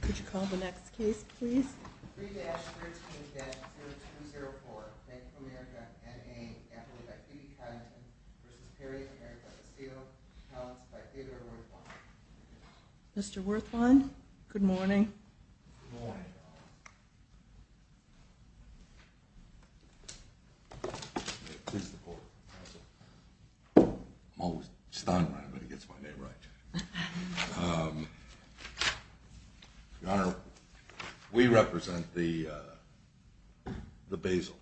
Could you call the next case, please? 3-13-0204 Bank of America N.A. Appellate Activity Content v. Period of America Basile Accounts by Theodore Werthwein Mr. Werthwein, good morning. Good morning. May it please the court, counsel. I'm always stuttering when it gets my name right. Your Honor, we represent the Basiles.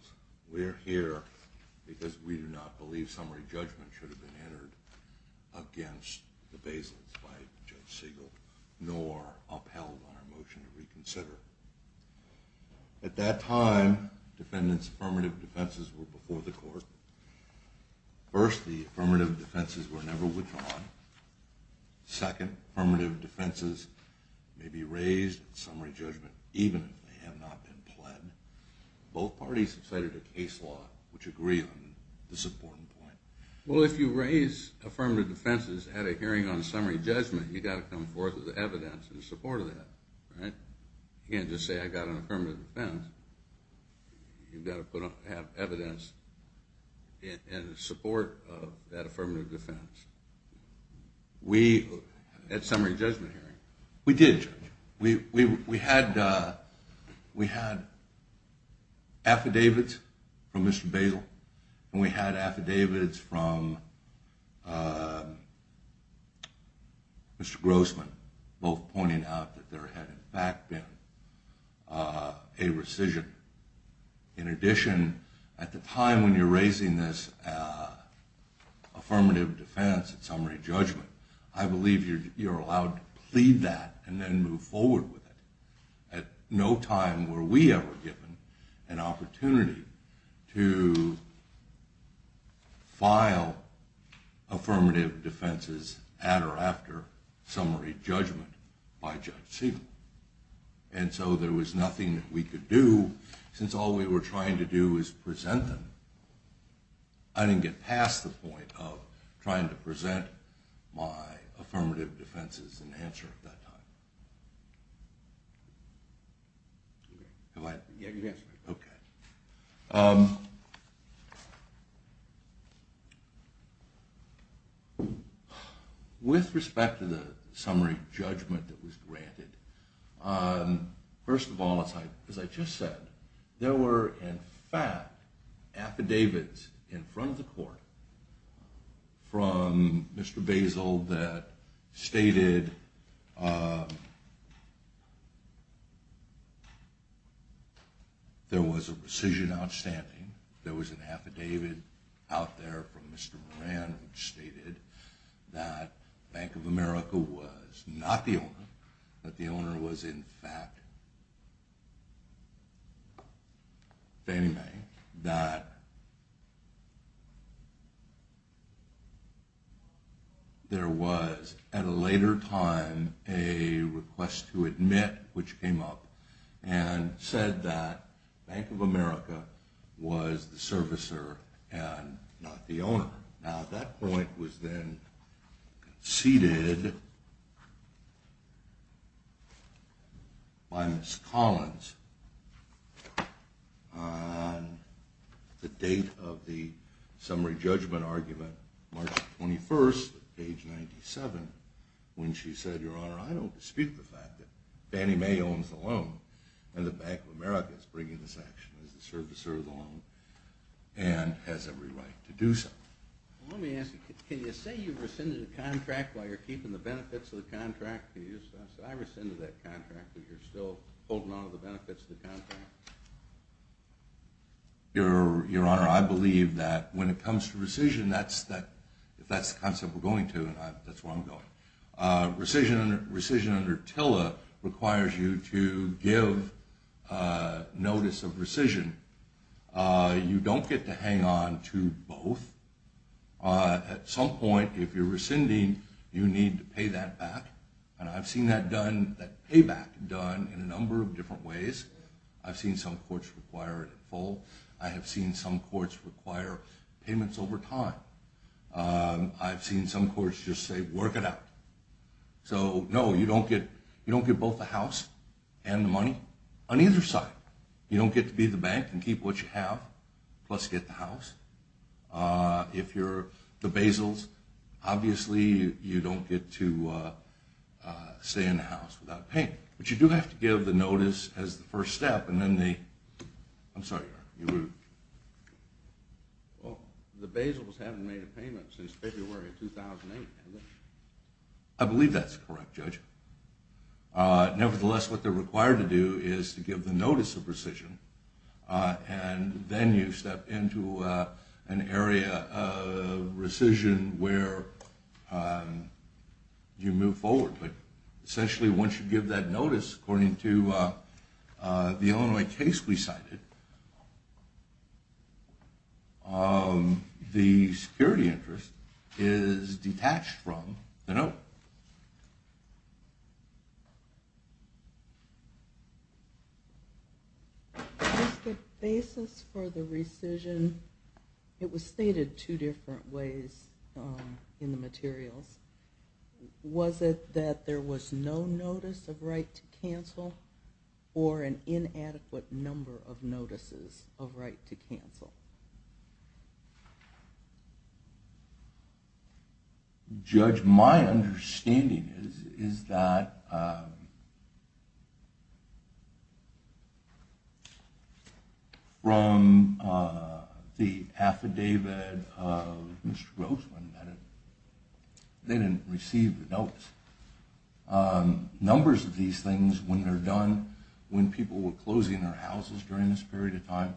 We're here because we do not believe summary judgment should have been entered against the Basiles by Judge Siegel, nor upheld on our motion to reconsider. At that time, defendants' affirmative defenses were before the court. First, the affirmative defenses were never withdrawn. Second, affirmative defenses may be raised in summary judgment even if they have not been pled. Both parties have cited a case law which agree on this important point. Well, if you raise affirmative defenses at a hearing on summary judgment, you've got to come forth with evidence in support of that, right? You can't just say I've got an affirmative defense. You've got to have evidence in support of that affirmative defense. We, at summary judgment hearing, we did. We had affidavits from Mr. Basile, and we had affidavits from Mr. Grossman, both pointing out that there had in fact been a rescission. In addition, at the time when you're raising this affirmative defense at summary judgment, I believe you're allowed to plead that and then move forward with it. At no time were we ever given an opportunity to file affirmative defenses at or after summary judgment by Judge Siegel. And so there was nothing that we could do since all we were trying to do was present them. I didn't get past the point of trying to present my affirmative defenses in answer at that time. Have I? Yes. Okay. With respect to the summary judgment that was granted, first of all, as I just said, there were in fact affidavits in front of the court from Mr. Basile that stated there was a rescission outstanding. There was an affidavit out there from Mr. Moran which stated that Bank of America was not the owner, that the owner was in fact Danny May, that there was at a later time a request to admit, which came up, and said that Bank of America was the servicer and not the owner. Now that point was then conceded by Ms. Collins on the date of the summary judgment argument, March 21st, age 97, when she said, Your Honor, I don't dispute the fact that Danny May owns the loan and that Bank of America is bringing this action as the servicer of the loan and has every right to do so. Let me ask you, can you say you rescinded a contract while you're keeping the benefits of the contract? Can you just say, I rescinded that contract, but you're still holding on to the benefits of the contract? Your Honor, I believe that when it comes to rescission, if that's the concept we're going to, that's where I'm going. Rescission under TILA requires you to give notice of rescission. You don't get to hang on to both. At some point, if you're rescinding, you need to pay that back, and I've seen that payback done in a number of different ways. I've seen some courts require it in full. I have seen some courts require payments over time. I've seen some courts just say, work it out. So, no, you don't get both the house and the money on either side. You don't get to be the bank and keep what you have, plus get the house. If you're the basils, obviously you don't get to stay in the house without paying, but you do have to give the notice as the first step, and then they... I'm sorry, Your Honor. Well, the basils haven't made a payment since February of 2008. I believe that's correct, Judge. Nevertheless, what they're required to do is to give the notice of rescission, and then you step into an area of rescission where you move forward. Essentially, once you give that notice, according to the Illinois case we cited, the security interest is detached from the note. Was the basis for the rescission... It was stated two different ways in the materials. Was it that there was no notice of right to cancel or an inadequate number of notices of right to cancel? Judge, my understanding is that from the affidavit of Mr. Grossman they didn't receive the notice. Numbers of these things, when they're done, when people were closing their houses during this period of time,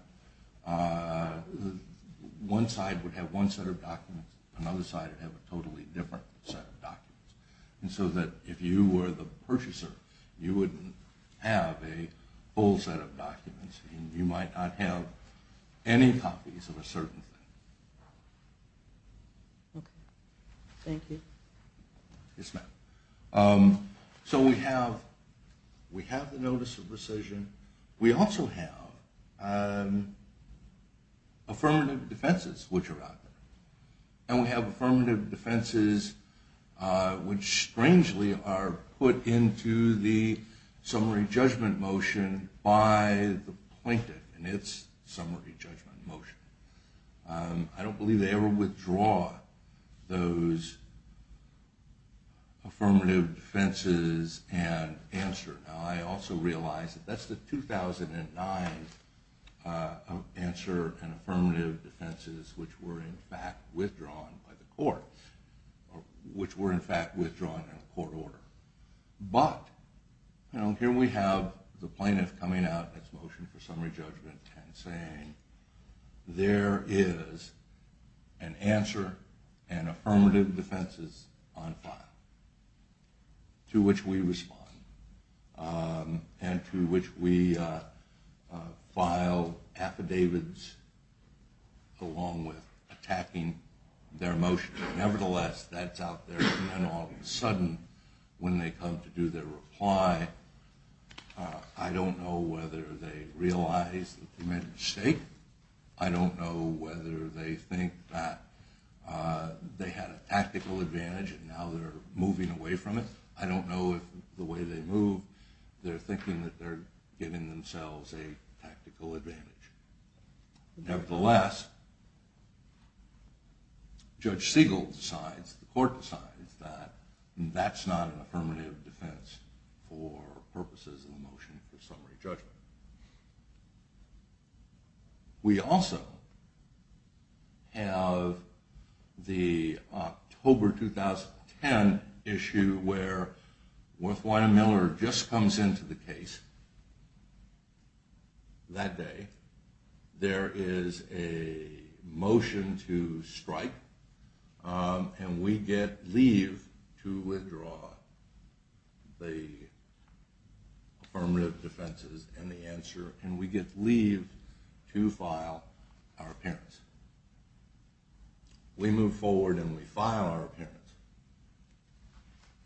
one side would have one set of documents, another side would have a totally different set of documents. So that if you were the purchaser, you wouldn't have a full set of documents, and you might not have any copies of a certain thing. Okay. Thank you. Yes, ma'am. So we have the notice of rescission. We also have affirmative defenses which are out there, and we have affirmative defenses which strangely are put into the summary judgment motion by the plaintiff in its summary judgment motion. I don't believe they ever withdraw those affirmative defenses and answer. Now I also realize that that's the 2009 answer and affirmative defenses which were in fact withdrawn by the court, which were in fact withdrawn in court order. But here we have the plaintiff coming out in its motion for summary judgment and saying there is an answer and affirmative defenses on file to which we respond and to which we file affidavits along with attacking their motion. Nevertheless, that's out there and then all of a sudden when they come to do their reply, I don't know whether they realize that they made a mistake. I don't know whether they think that they had a tactical advantage and now they're moving away from it. I don't know if the way they move, they're thinking that they're giving themselves a tactical advantage. Nevertheless, Judge Siegel decides, the court decides, that that's not an affirmative defense for purposes of the motion for summary judgment. We also have the October 2010 issue where Wythwein Miller just comes into the case that day. There is a motion to strike and we get leave to withdraw the affirmative defenses and the answer and we get leave to file our appearance. We move forward and we file our appearance.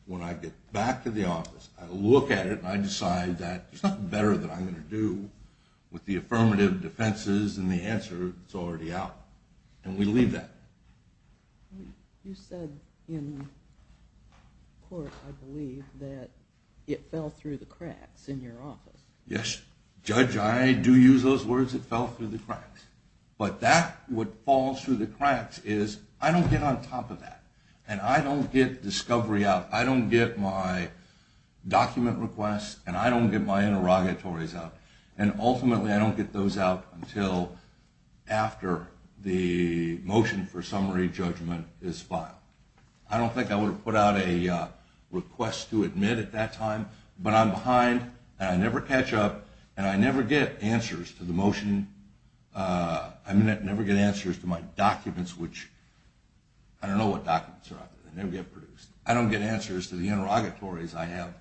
When I get back to the office, I look at it and I decide that there's nothing better that I'm going to do with the affirmative defenses and the answer is already out and we leave that. You said in court, I believe, that it fell through the cracks in your office. Yes, Judge, I do use those words, it fell through the cracks. But that what falls through the cracks is I don't get on top of that and I don't get discovery out. I don't get my document requests and I don't get my interrogatories out. And ultimately I don't get those out until after the motion for summary judgment is filed. I don't think I would have put out a request to admit at that time, but I'm behind and I never catch up and I never get answers to the motion, I never get answers to my documents, which I don't know what documents are out there, they never get produced. I don't get answers to the interrogatories I have.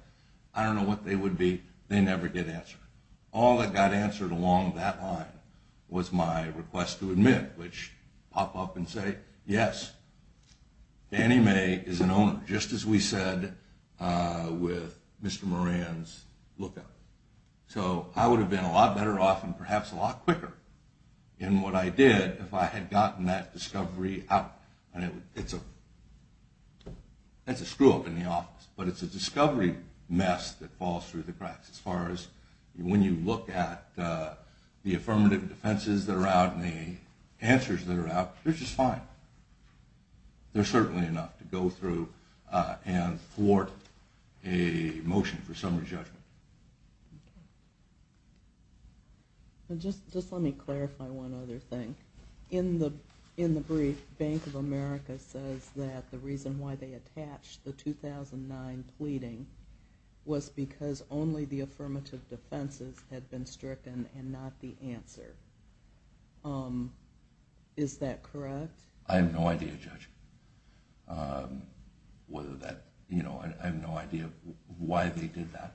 I don't know what they would be, they never get answered. All that got answered along that line was my request to admit, which pop up and say, yes, Danny May is an owner, just as we said with Mr. Moran's lookup. So I would have been a lot better off and perhaps a lot quicker in what I did if I had gotten that discovery out. That's a screw-up in the office, but it's a discovery mess that falls through the cracks as far as when you look at the affirmative defenses that are out and the answers that are out, they're just fine. They're certainly enough to go through and thwart a motion for summary judgment. Okay. Just let me clarify one other thing. In the brief, Bank of America says that the reason why they attached the 2009 pleading was because only the affirmative defenses had been stricken and not the answer. Is that correct? I have no idea, Judge. I have no idea why they did that.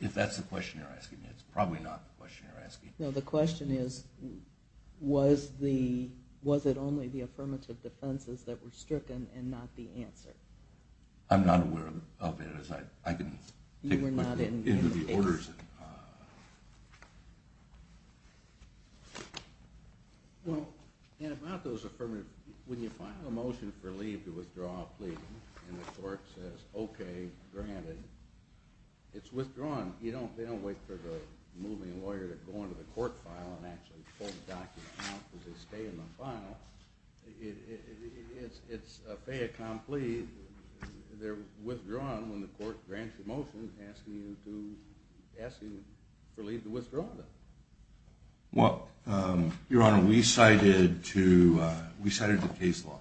If that's the question you're asking, it's probably not the question you're asking. No, the question is, was it only the affirmative defenses that were stricken and not the answer? I'm not aware of it. I can take a look into the orders. Well, and about those affirmative, when you file a motion for leave to withdraw a plea and the court says, okay, granted, it's withdrawn. They don't wait for the moving lawyer to go into the court file and actually pull the document out because they stay in the file. It's a fait accompli. They're withdrawn when the court grants a motion asking for leave to withdraw them. Well, Your Honor, we cited the case law,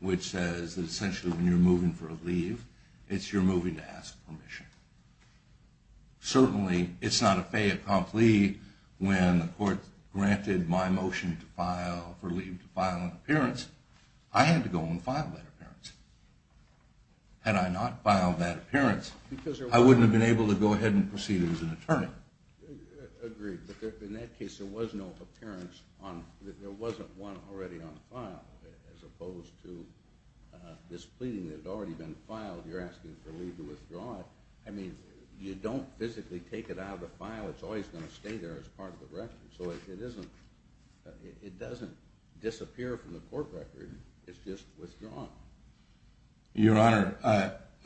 which says that essentially when you're moving for a leave, it's your moving to ask permission. Certainly, it's not a fait accompli when the court granted my motion for leave to file an appearance. I had to go and file that appearance. Had I not filed that appearance, I wouldn't have been able to go ahead and proceed as an attorney. Agreed, but in that case, there was no appearance. There wasn't one already on file as opposed to this pleading that had already been filed. You're asking for leave to withdraw it. I mean, you don't physically take it out of the file. It's always going to stay there as part of the record. It doesn't disappear from the court record. It's just withdrawn. Your Honor,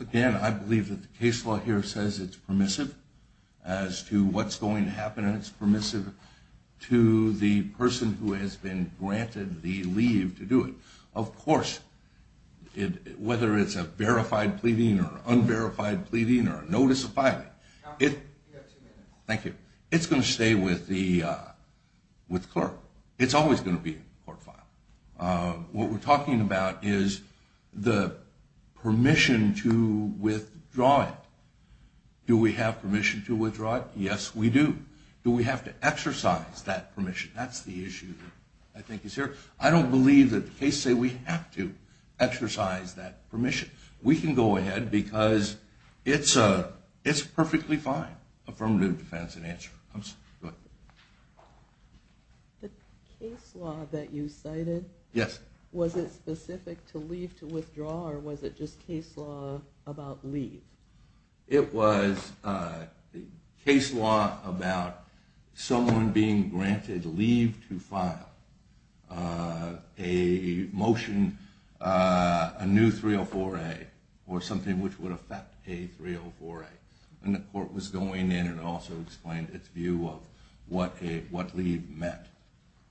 again, I believe that the case law here says it's permissive as to what's going to happen, and it's permissive to the person who has been granted the leave to do it. Of course, whether it's a verified pleading or unverified pleading or a notice of filing, Thank you. It's going to stay with the clerk. It's always going to be in the court file. What we're talking about is the permission to withdraw it. Do we have permission to withdraw it? Yes, we do. Do we have to exercise that permission? That's the issue I think is here. I don't believe that the cases say we have to exercise that permission. We can go ahead because it's perfectly fine. Affirmative defense in answer. The case law that you cited, was it specific to leave to withdraw, or was it just case law about leave? It was case law about someone being granted leave to file a motion, a new 304A, or something which would affect a 304A. The court was going in and also explained its view of what leave meant,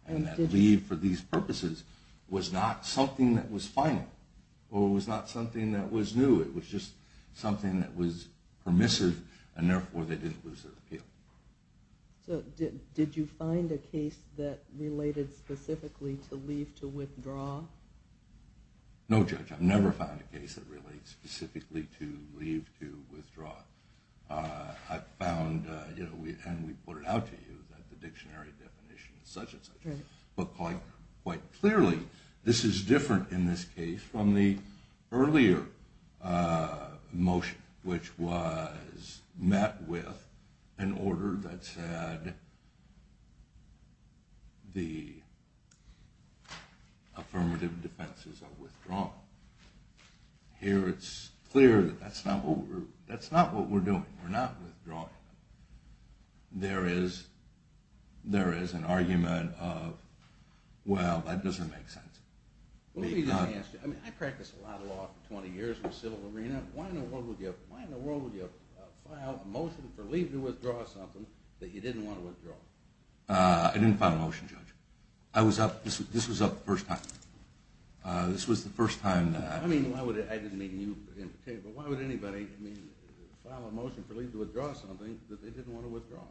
and that leave for these purposes was not something that was final, or it was not something that was new. It was just something that was permissive, and therefore they didn't lose their appeal. Did you find a case that related specifically to leave to withdraw? No, Judge. I've never found a case that relates specifically to leave to withdraw. I've found, and we put it out to you, that the dictionary definition is such and such, but quite clearly this is different in this case from the earlier motion, which was met with an order that said the affirmative defenses are withdrawn. Here it's clear that that's not what we're doing. We're not withdrawing them. There is an argument of, well, that doesn't make sense. Let me just ask you. I mean, I practiced a lot of law for 20 years in the civil arena. Why in the world would you file a motion for leave to withdraw something that you didn't want to withdraw? I didn't file a motion, Judge. This was the first time. I didn't mean you, but why would anybody file a motion for leave to withdraw something that they didn't want withdrawn?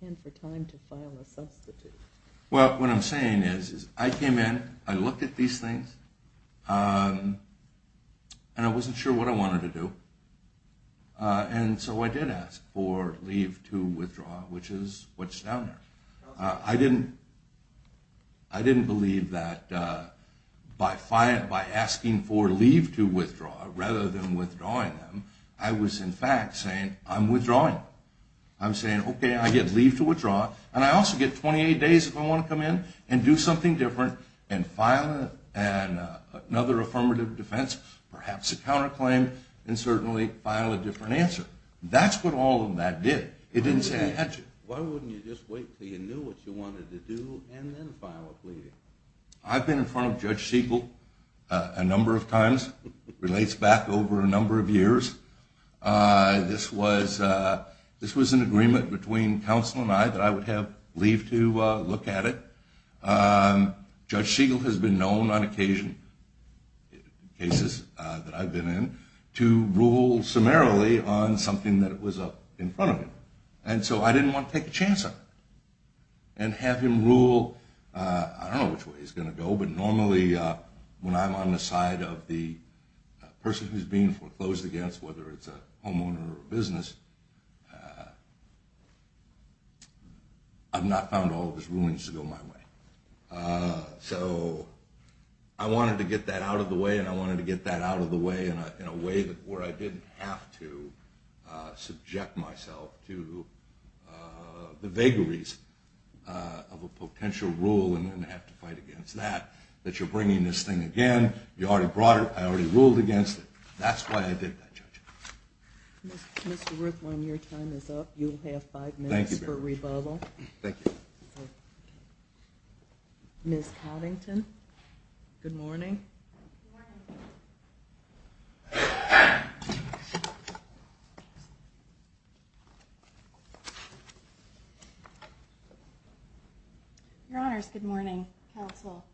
And for time to file a substitute. Well, what I'm saying is I came in, I looked at these things, and I wasn't sure what I wanted to do. And so I did ask for leave to withdraw, which is what's down there. I didn't believe that by asking for leave to withdraw rather than withdrawing them, I was, in fact, saying I'm withdrawing them. I'm saying, okay, I get leave to withdraw, and I also get 28 days if I want to come in and do something different and file another affirmative defense, perhaps a counterclaim, and certainly file a different answer. That's what all of that did. It didn't say I had to. Why wouldn't you just wait until you knew what you wanted to do and then file a plea? I've been in front of Judge Siegel a number of times. It relates back over a number of years. This was an agreement between counsel and I that I would have leave to look at it. Judge Siegel has been known on occasion, cases that I've been in, to rule summarily on something that was up in front of him. And so I didn't want to take a chance on him and have him rule. I don't know which way he's going to go, but normally when I'm on the side of the person who's being foreclosed against, whether it's a homeowner or a business, I've not found all of his rulings to go my way. So I wanted to get that out of the way, and I wanted to get that out of the way in a way where I didn't have to subject myself to the vagaries of a potential rule and then have to fight against that, that you're bringing this thing again. You already brought it. I already ruled against it. That's why I did that, Judge. Mr. Ruthline, your time is up. You'll have five minutes for rebuttal. Thank you very much. Thank you. Ms. Coddington, good morning. Good morning. Your Honors, good morning, counsel.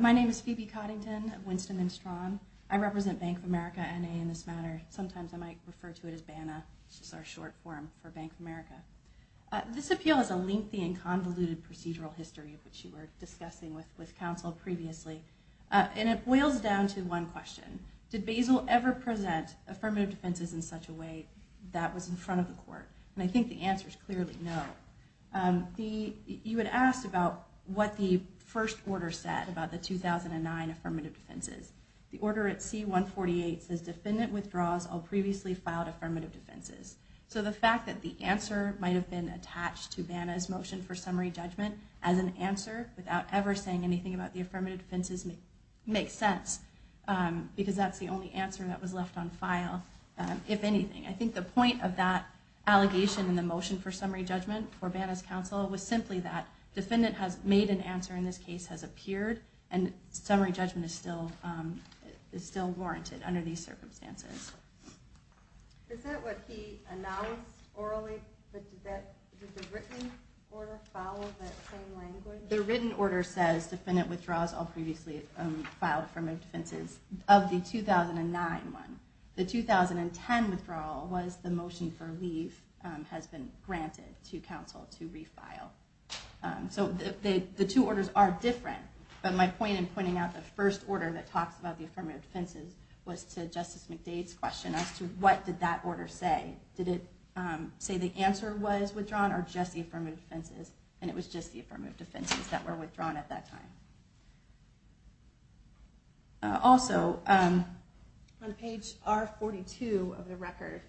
My name is Phoebe Coddington of Winston and Strawn. I represent Bank of America, N.A., in this matter. Sometimes I might refer to it as BANA, which is our short form for Bank of America. This appeal has a lengthy and convoluted procedural history, which you were discussing with counsel previously. It boils down to one question. Did BASEL ever present affirmative defenses in such a way that was in front of the court? I think the answer is clearly no. You had asked about what the first order said about the 2009 affirmative defenses. The order at C-148 says, defendant withdraws all previously filed affirmative defenses. So the fact that the answer might have been attached to BANA's motion for summary judgment as an answer without ever saying anything about the affirmative defenses makes sense, because that's the only answer that was left on file, if anything. I think the point of that allegation in the motion for summary judgment for BANA's counsel was simply that defendant has made an answer in this case, has appeared, and summary judgment is still warranted under these circumstances. Is that what he announced orally? Did the written order follow that same language? The written order says, defendant withdraws all previously filed affirmative defenses. Of the 2009 one, the 2010 withdrawal was the motion for leave has been granted to counsel to refile. So the two orders are different, but my point in pointing out the first order that talks about the affirmative defenses was to Justice McDade's question as to what did that order say. Did it say the answer was withdrawn or just the affirmative defenses? And it was just the affirmative defenses that were withdrawn at that time. Also, on page R-42 of the record,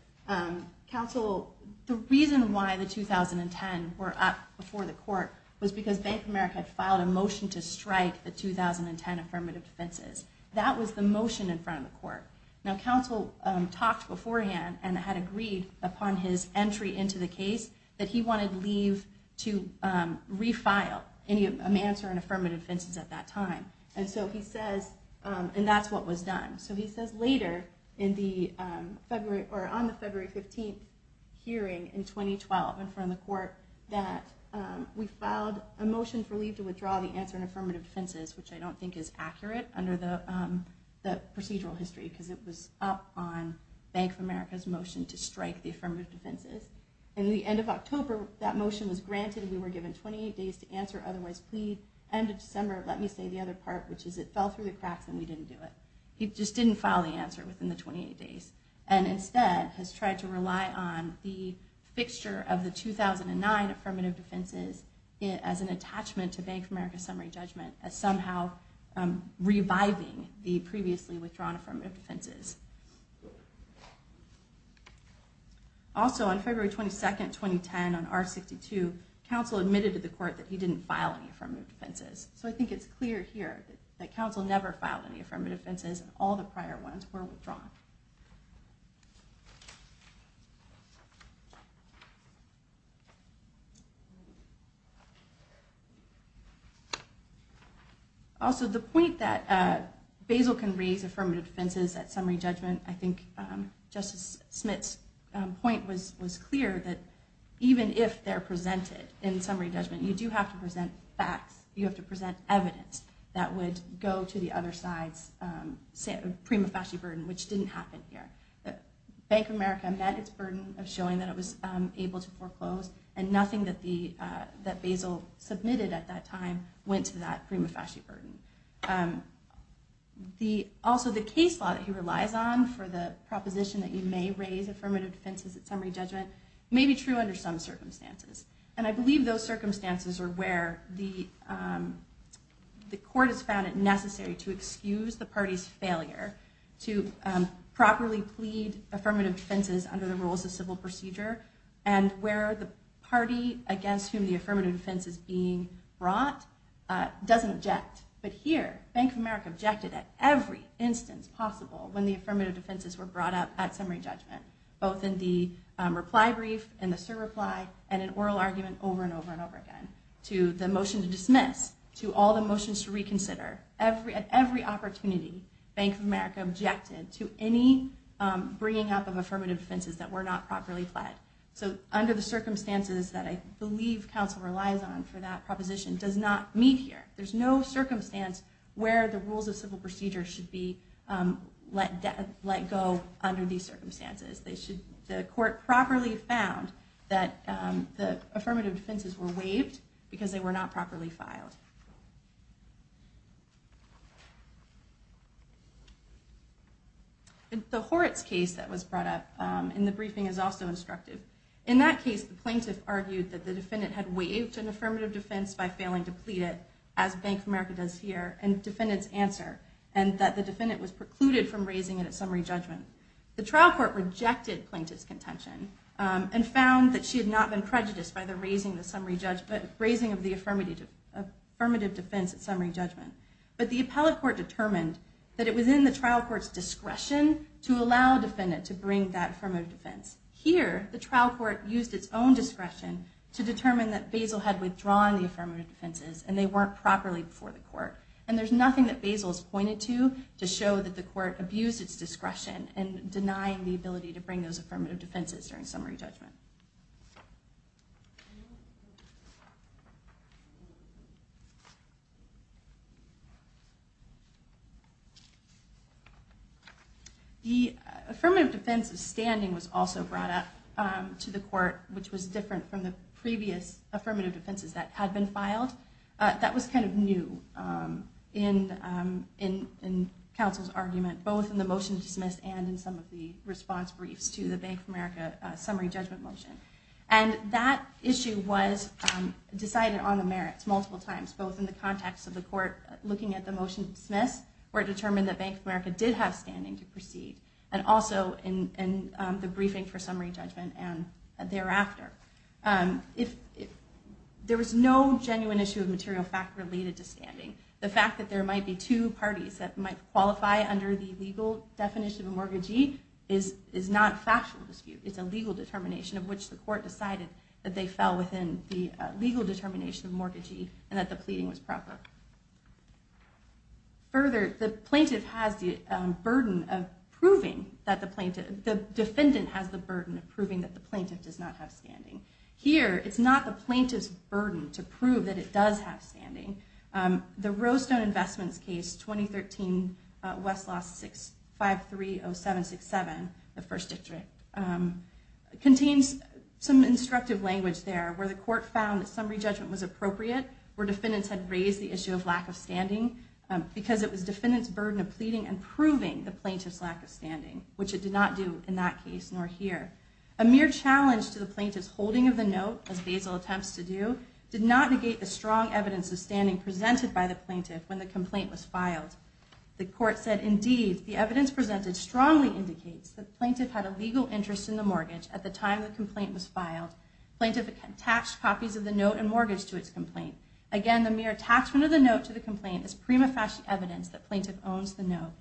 counsel, the reason why the 2010 were up before the court was because Bank of America had filed a motion to strike the 2010 affirmative defenses. That was the motion in front of the court. Now, counsel talked beforehand and had agreed upon his entry into the case that he wanted leave to refile any answer in affirmative defenses at that time. And so he says, and that's what was done. So he says later on the February 15th hearing in 2012 in front of the court that we filed a motion for leave to withdraw the answer in affirmative defenses, which I don't think is accurate under the procedural history because it was up on Bank of America's motion to strike the affirmative defenses. In the end of October, that motion was granted. We were given 28 days to answer, otherwise plead. End of December, let me say the other part, which is it fell through the cracks and we didn't do it. He just didn't file the answer within the 28 days and instead has tried to rely on the fixture of the 2009 affirmative defenses as an attachment to Bank of America's summary judgment as somehow reviving the previously withdrawn affirmative defenses. Also, on February 22nd, 2010 on R62, counsel admitted to the court that he didn't file any affirmative defenses. So I think it's clear here that counsel never filed any affirmative defenses and all the prior ones were withdrawn. Also, the point that Basil can raise affirmative defenses at summary judgment, I think Justice Smith's point was clear that even if they're presented in summary judgment, you do have to present facts. You have to present evidence that would go to the other side's prima facie burden, which didn't happen here. Bank of America met its burden of showing that it was able to foreclose and nothing that Basil submitted at that time went to that prima facie burden. Also, the case law that he relies on for the proposition that you may raise affirmative defenses at summary judgment may be true under some circumstances. And I believe those circumstances are where the court has found it necessary to excuse the party's failure to properly plead affirmative defenses under the rules of civil procedure and where the party against whom the affirmative defense is being brought doesn't object. But here, Bank of America objected at every instance possible when the affirmative defenses were brought up at summary judgment, both in the reply brief and the cert reply and in oral argument over and over and over again, to the motion to dismiss, to all the motions to reconsider. At every opportunity, Bank of America objected to any bringing up of affirmative defenses that were not properly pled. So under the circumstances that I believe counsel relies on for that proposition does not meet here. There's no circumstance where the rules of civil procedure should be let go under these circumstances. The court properly found that the affirmative defenses were waived because they were not properly filed. The Horitz case that was brought up in the briefing is also instructive. In that case, the plaintiff argued that the defendant had waived an affirmative defense by failing to plead it, as Bank of America does here, and the defendant's answer, and that the defendant was precluded from raising it at summary judgment. The trial court rejected plaintiff's contention and found that she had not been prejudiced by the raising of the affirmative defense at summary judgment. But the appellate court determined that it was in the trial court's discretion to allow a defendant to bring that affirmative defense. Here, the trial court used its own discretion to determine that Basil had withdrawn the affirmative defenses and they weren't properly before the court. And there's nothing that Basil has pointed to to show that the court abused its discretion in denying the ability to bring those affirmative defenses during summary judgment. The affirmative defense of standing was also brought up to the court, which was different from the previous affirmative defenses that had been filed. That was kind of new in counsel's argument, both in the motion to dismiss and in some of the response briefs to the Bank of America summary judgment motion. And that issue was decided on the merits multiple times, both in the context of the court looking at the motion to dismiss, where it determined that Bank of America did have standing to proceed, and also in the briefing for summary judgment and thereafter. There was no genuine issue of material fact related to standing. The fact that there might be two parties that might qualify under the legal definition of a mortgagee is not a factual dispute. It's a legal determination of which the court decided that they fell within the legal determination of a mortgagee and that the pleading was proper. Further, the plaintiff has the burden of proving that the plaintiff, the defendant has the burden of proving that the plaintiff does not have standing. Here, it's not the plaintiff's burden to prove that it does have standing. The Rose Stone Investments case, 2013, Westlaw 6530767, the first district, contains some instructive language there, where the court found that summary judgment was appropriate, where defendants had raised the issue of lack of standing, because it was defendant's burden of pleading and proving the plaintiff's lack of standing, which it did not do in that case, nor here. A mere challenge to the plaintiff's holding of the note, as Basil attempts to do, did not negate the strong evidence of standing presented by the plaintiff when the complaint was filed. The court said, indeed, the evidence presented strongly indicates that the plaintiff had a legal interest in the mortgage at the time the complaint was filed. The plaintiff attached copies of the note and mortgage to its complaint. Again, the mere attachment of the note to the complaint is prima facie evidence that the plaintiff owns the note.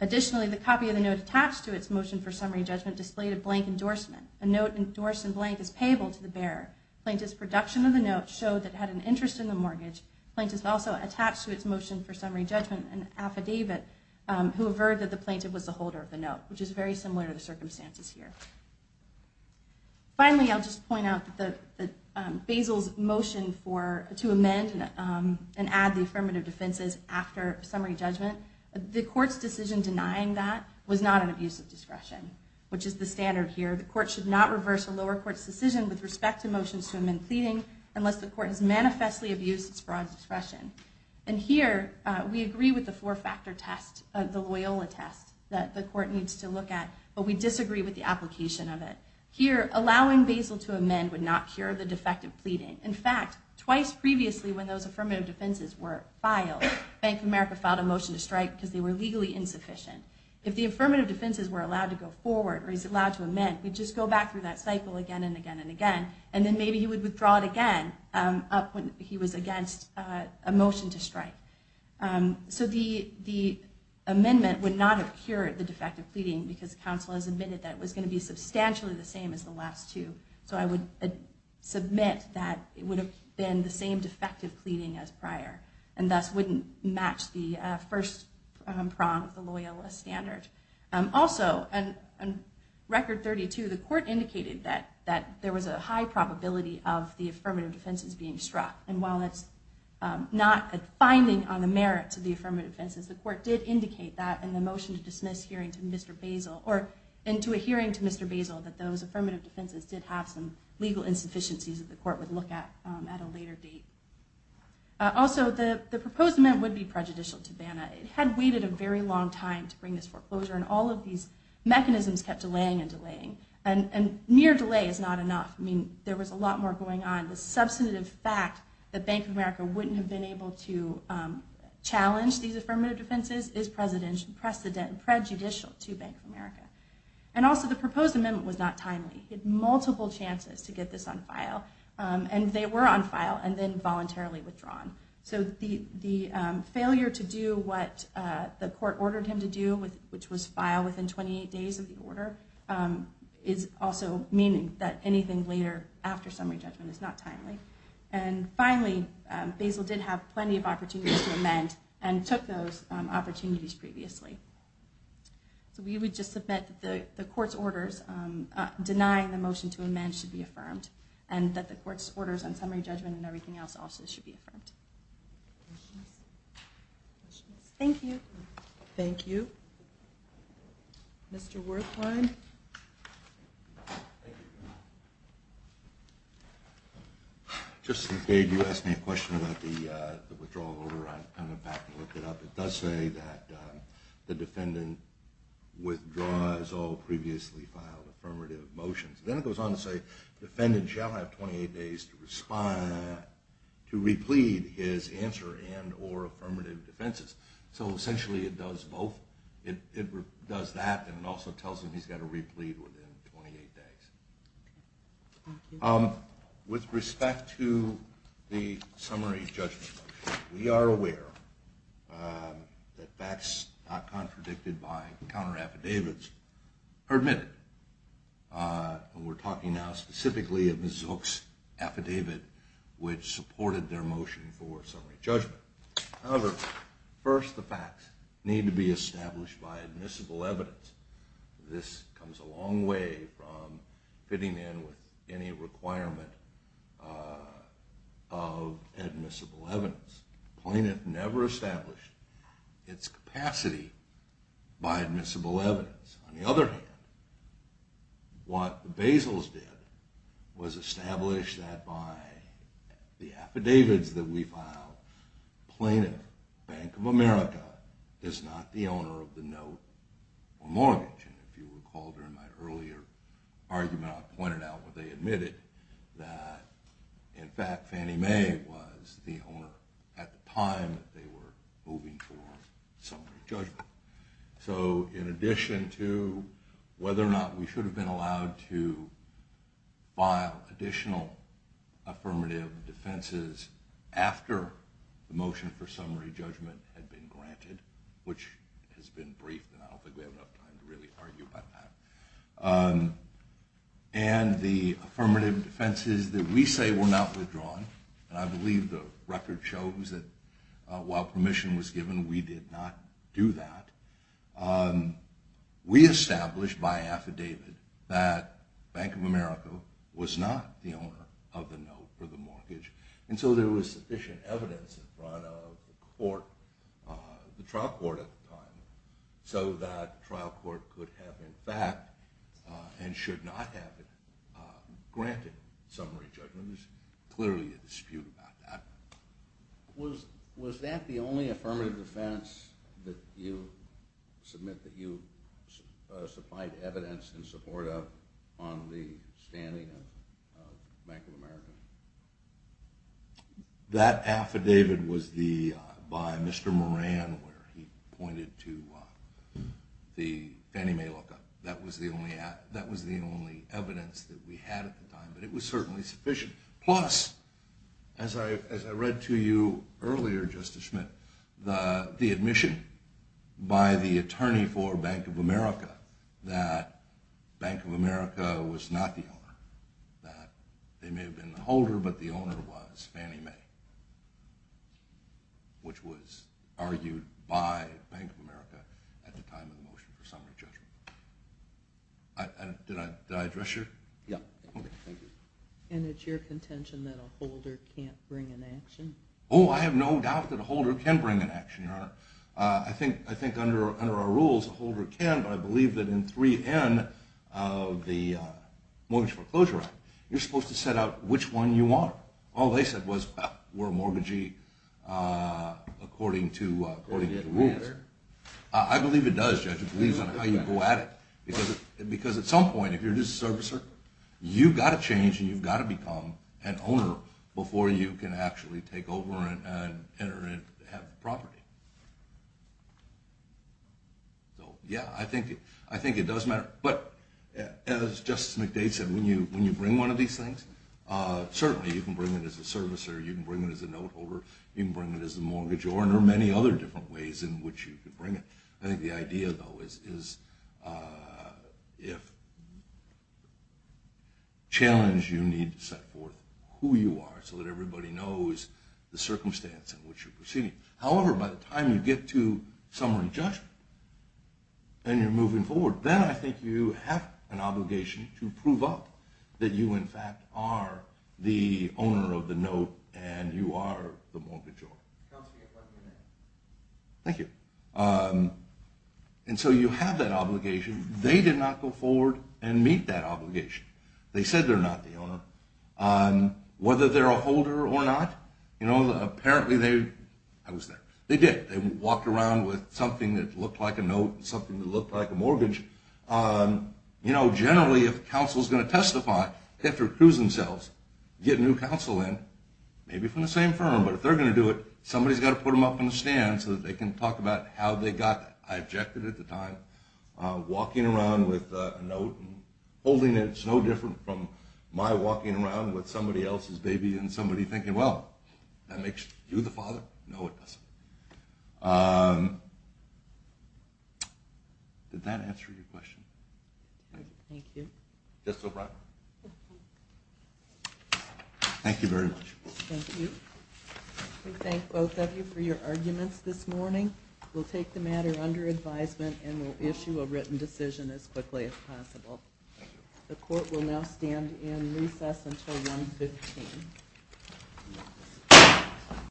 Additionally, the copy of the note attached to its motion for summary judgment displayed a blank endorsement. A note endorsed in blank is payable to the bearer. Plaintiff's production of the note showed that it had an interest in the mortgage. Plaintiff's also attached to its motion for summary judgment an affidavit who averred that the plaintiff was the holder of the note, which is very similar to the circumstances here. Finally, I'll just point out that Basil's motion to amend and add the affirmative defenses after summary judgment, the court's decision denying that was not an abuse of discretion, which is the standard here. The court should not reverse a lower court's decision with respect to motions to amend pleading unless the court has manifestly abused its broad discretion. And here, we agree with the four-factor test, the Loyola test that the court needs to look at, but we disagree with the application of it. Here, allowing Basil to amend would not cure the defect of pleading. In fact, twice previously when those affirmative defenses were filed, Bank of America filed a motion to strike because they were legally insufficient. If the affirmative defenses were allowed to go forward or he's allowed to amend, we'd just go back through that cycle again and again and again, and then maybe he would withdraw it again when he was against a motion to strike. So the amendment would not have cured the defect of pleading because counsel has admitted that it was going to be substantially the same as the last two. So I would submit that it would have been the same defect of pleading as prior and thus wouldn't match the first prong of the Loyola standard. Also, on Record 32, the court indicated that there was a high probability of the affirmative defenses being struck. And while it's not a finding on the merit to the affirmative defenses, the court did indicate that in the motion to dismiss hearing to Mr. Basil or into a hearing to Mr. Basil that those affirmative defenses did have some legal insufficiencies that the court would look at at a later date. Also, the proposed amendment would be prejudicial to BANA. It had waited a very long time to bring this foreclosure, and all of these mechanisms kept delaying and delaying. And mere delay is not enough. I mean, there was a lot more going on. The substantive fact that Bank of America wouldn't have been able to challenge these affirmative defenses is prejudicial to Bank of America. And also, the proposed amendment was not timely. It had multiple chances to get this on file, and they were on file, and then voluntarily withdrawn. So the failure to do what the court ordered him to do, which was file within 28 days of the order, is also meaning that anything later after summary judgment is not timely. And finally, Basil did have plenty of opportunities to amend and took those opportunities previously. So we would just submit that the court's orders denying the motion to amend should be affirmed and that the court's orders on summary judgment and everything else also should be affirmed. Questions? Thank you. Thank you. Mr. Wertheim? Thank you. Just in case you asked me a question about the withdrawal order, I went back and looked it up. It does say that the defendant withdraws all previously filed affirmative motions. Then it goes on to say, defendant shall have 28 days to replete his answer and or affirmative defenses. So essentially it does both. It does that and it also tells him he's got to replete within 28 days. Thank you. With respect to the summary judgment motion, we are aware that that's not contradicted by counter affidavits or admitted. We're talking now specifically of Ms. Zook's affidavit, which supported their motion for summary judgment. However, first the facts need to be established by admissible evidence. This comes a long way from fitting in with any requirement of admissible evidence. The plaintiff never established its capacity by admissible evidence. On the other hand, what the Basils did was establish that by the affidavits that we filed, plaintiff, Bank of America, is not the owner of the note or mortgage. And if you recall during my earlier argument, I pointed out where they admitted that in fact Fannie Mae was the owner at the time that they were moving for summary judgment. So in addition to whether or not we should have been allowed to file additional affirmative defenses after the motion for summary judgment had been granted, which has been briefed and I don't think we have enough time to really argue about that, and the affirmative defenses that we say were not withdrawn, and I believe the record shows that while permission was given we did not do that, we established by affidavit that Bank of America was not the owner of the note or the mortgage. And so there was sufficient evidence in front of the trial court at the time so that trial court could have in fact and should not have granted summary judgments. There's clearly a dispute about that. Was that the only affirmative defense that you submit that you supplied evidence in support of on the standing of Bank of America? That affidavit was by Mr. Moran where he pointed to the Fannie Mae lookup. That was the only evidence that we had at the time, but it was certainly sufficient. Plus, as I read to you earlier, Justice Schmidt, the admission by the attorney for Bank of America that Bank of America was not the owner, that they may have been the holder, but the owner was Fannie Mae, which was argued by Bank of America at the time of the motion for summary judgment. Did I address you? Yeah. Okay, thank you. And it's your contention that a holder can't bring an action? Oh, I have no doubt that a holder can bring an action, Your Honor. I think under our rules a holder can, but I believe that in 3N of the Mortgage Foreclosure Act you're supposed to set out which one you are. All they said was, well, we're a mortgagee according to the rules. Does that matter? I believe it does, Judge. It depends on how you go at it, because at some point if you're just a servicer, you've got to change and you've got to become an owner before you can actually take over and enter and have property. So, yeah, I think it does matter. But as Justice McDade said, when you bring one of these things, certainly you can bring it as a servicer, you can bring it as a note holder, you can bring it as a mortgage owner, many other different ways in which you can bring it. I think the idea, though, is if challenged, you need to set forth who you are so that everybody knows the circumstance in which you're proceeding. However, by the time you get to summary judgment and you're moving forward, then I think you have an obligation to prove up that you, in fact, are the owner of the note and you are the mortgage owner. Counselor, you have one minute. Thank you. And so you have that obligation. They did not go forward and meet that obligation. They said they're not the owner. Whether they're a holder or not, you know, apparently they – I was there. They did. They walked around with something that looked like a note and something that looked like a mortgage. You know, generally, if counsel's going to testify, they have to recuse themselves, get new counsel in, maybe from the same firm. But if they're going to do it, somebody's got to put them up on the stand so that they can talk about how they got that. I objected at the time. Walking around with a note and holding it is no different from my walking around with somebody else's baby and somebody thinking, well, that makes you the father? No, it doesn't. Did that answer your question? Thank you. Just so broad. Thank you very much. Thank you. We thank both of you for your arguments this morning. We'll take the matter under advisement and we'll issue a written decision as quickly as possible. The court will now stand in recess until 1.15.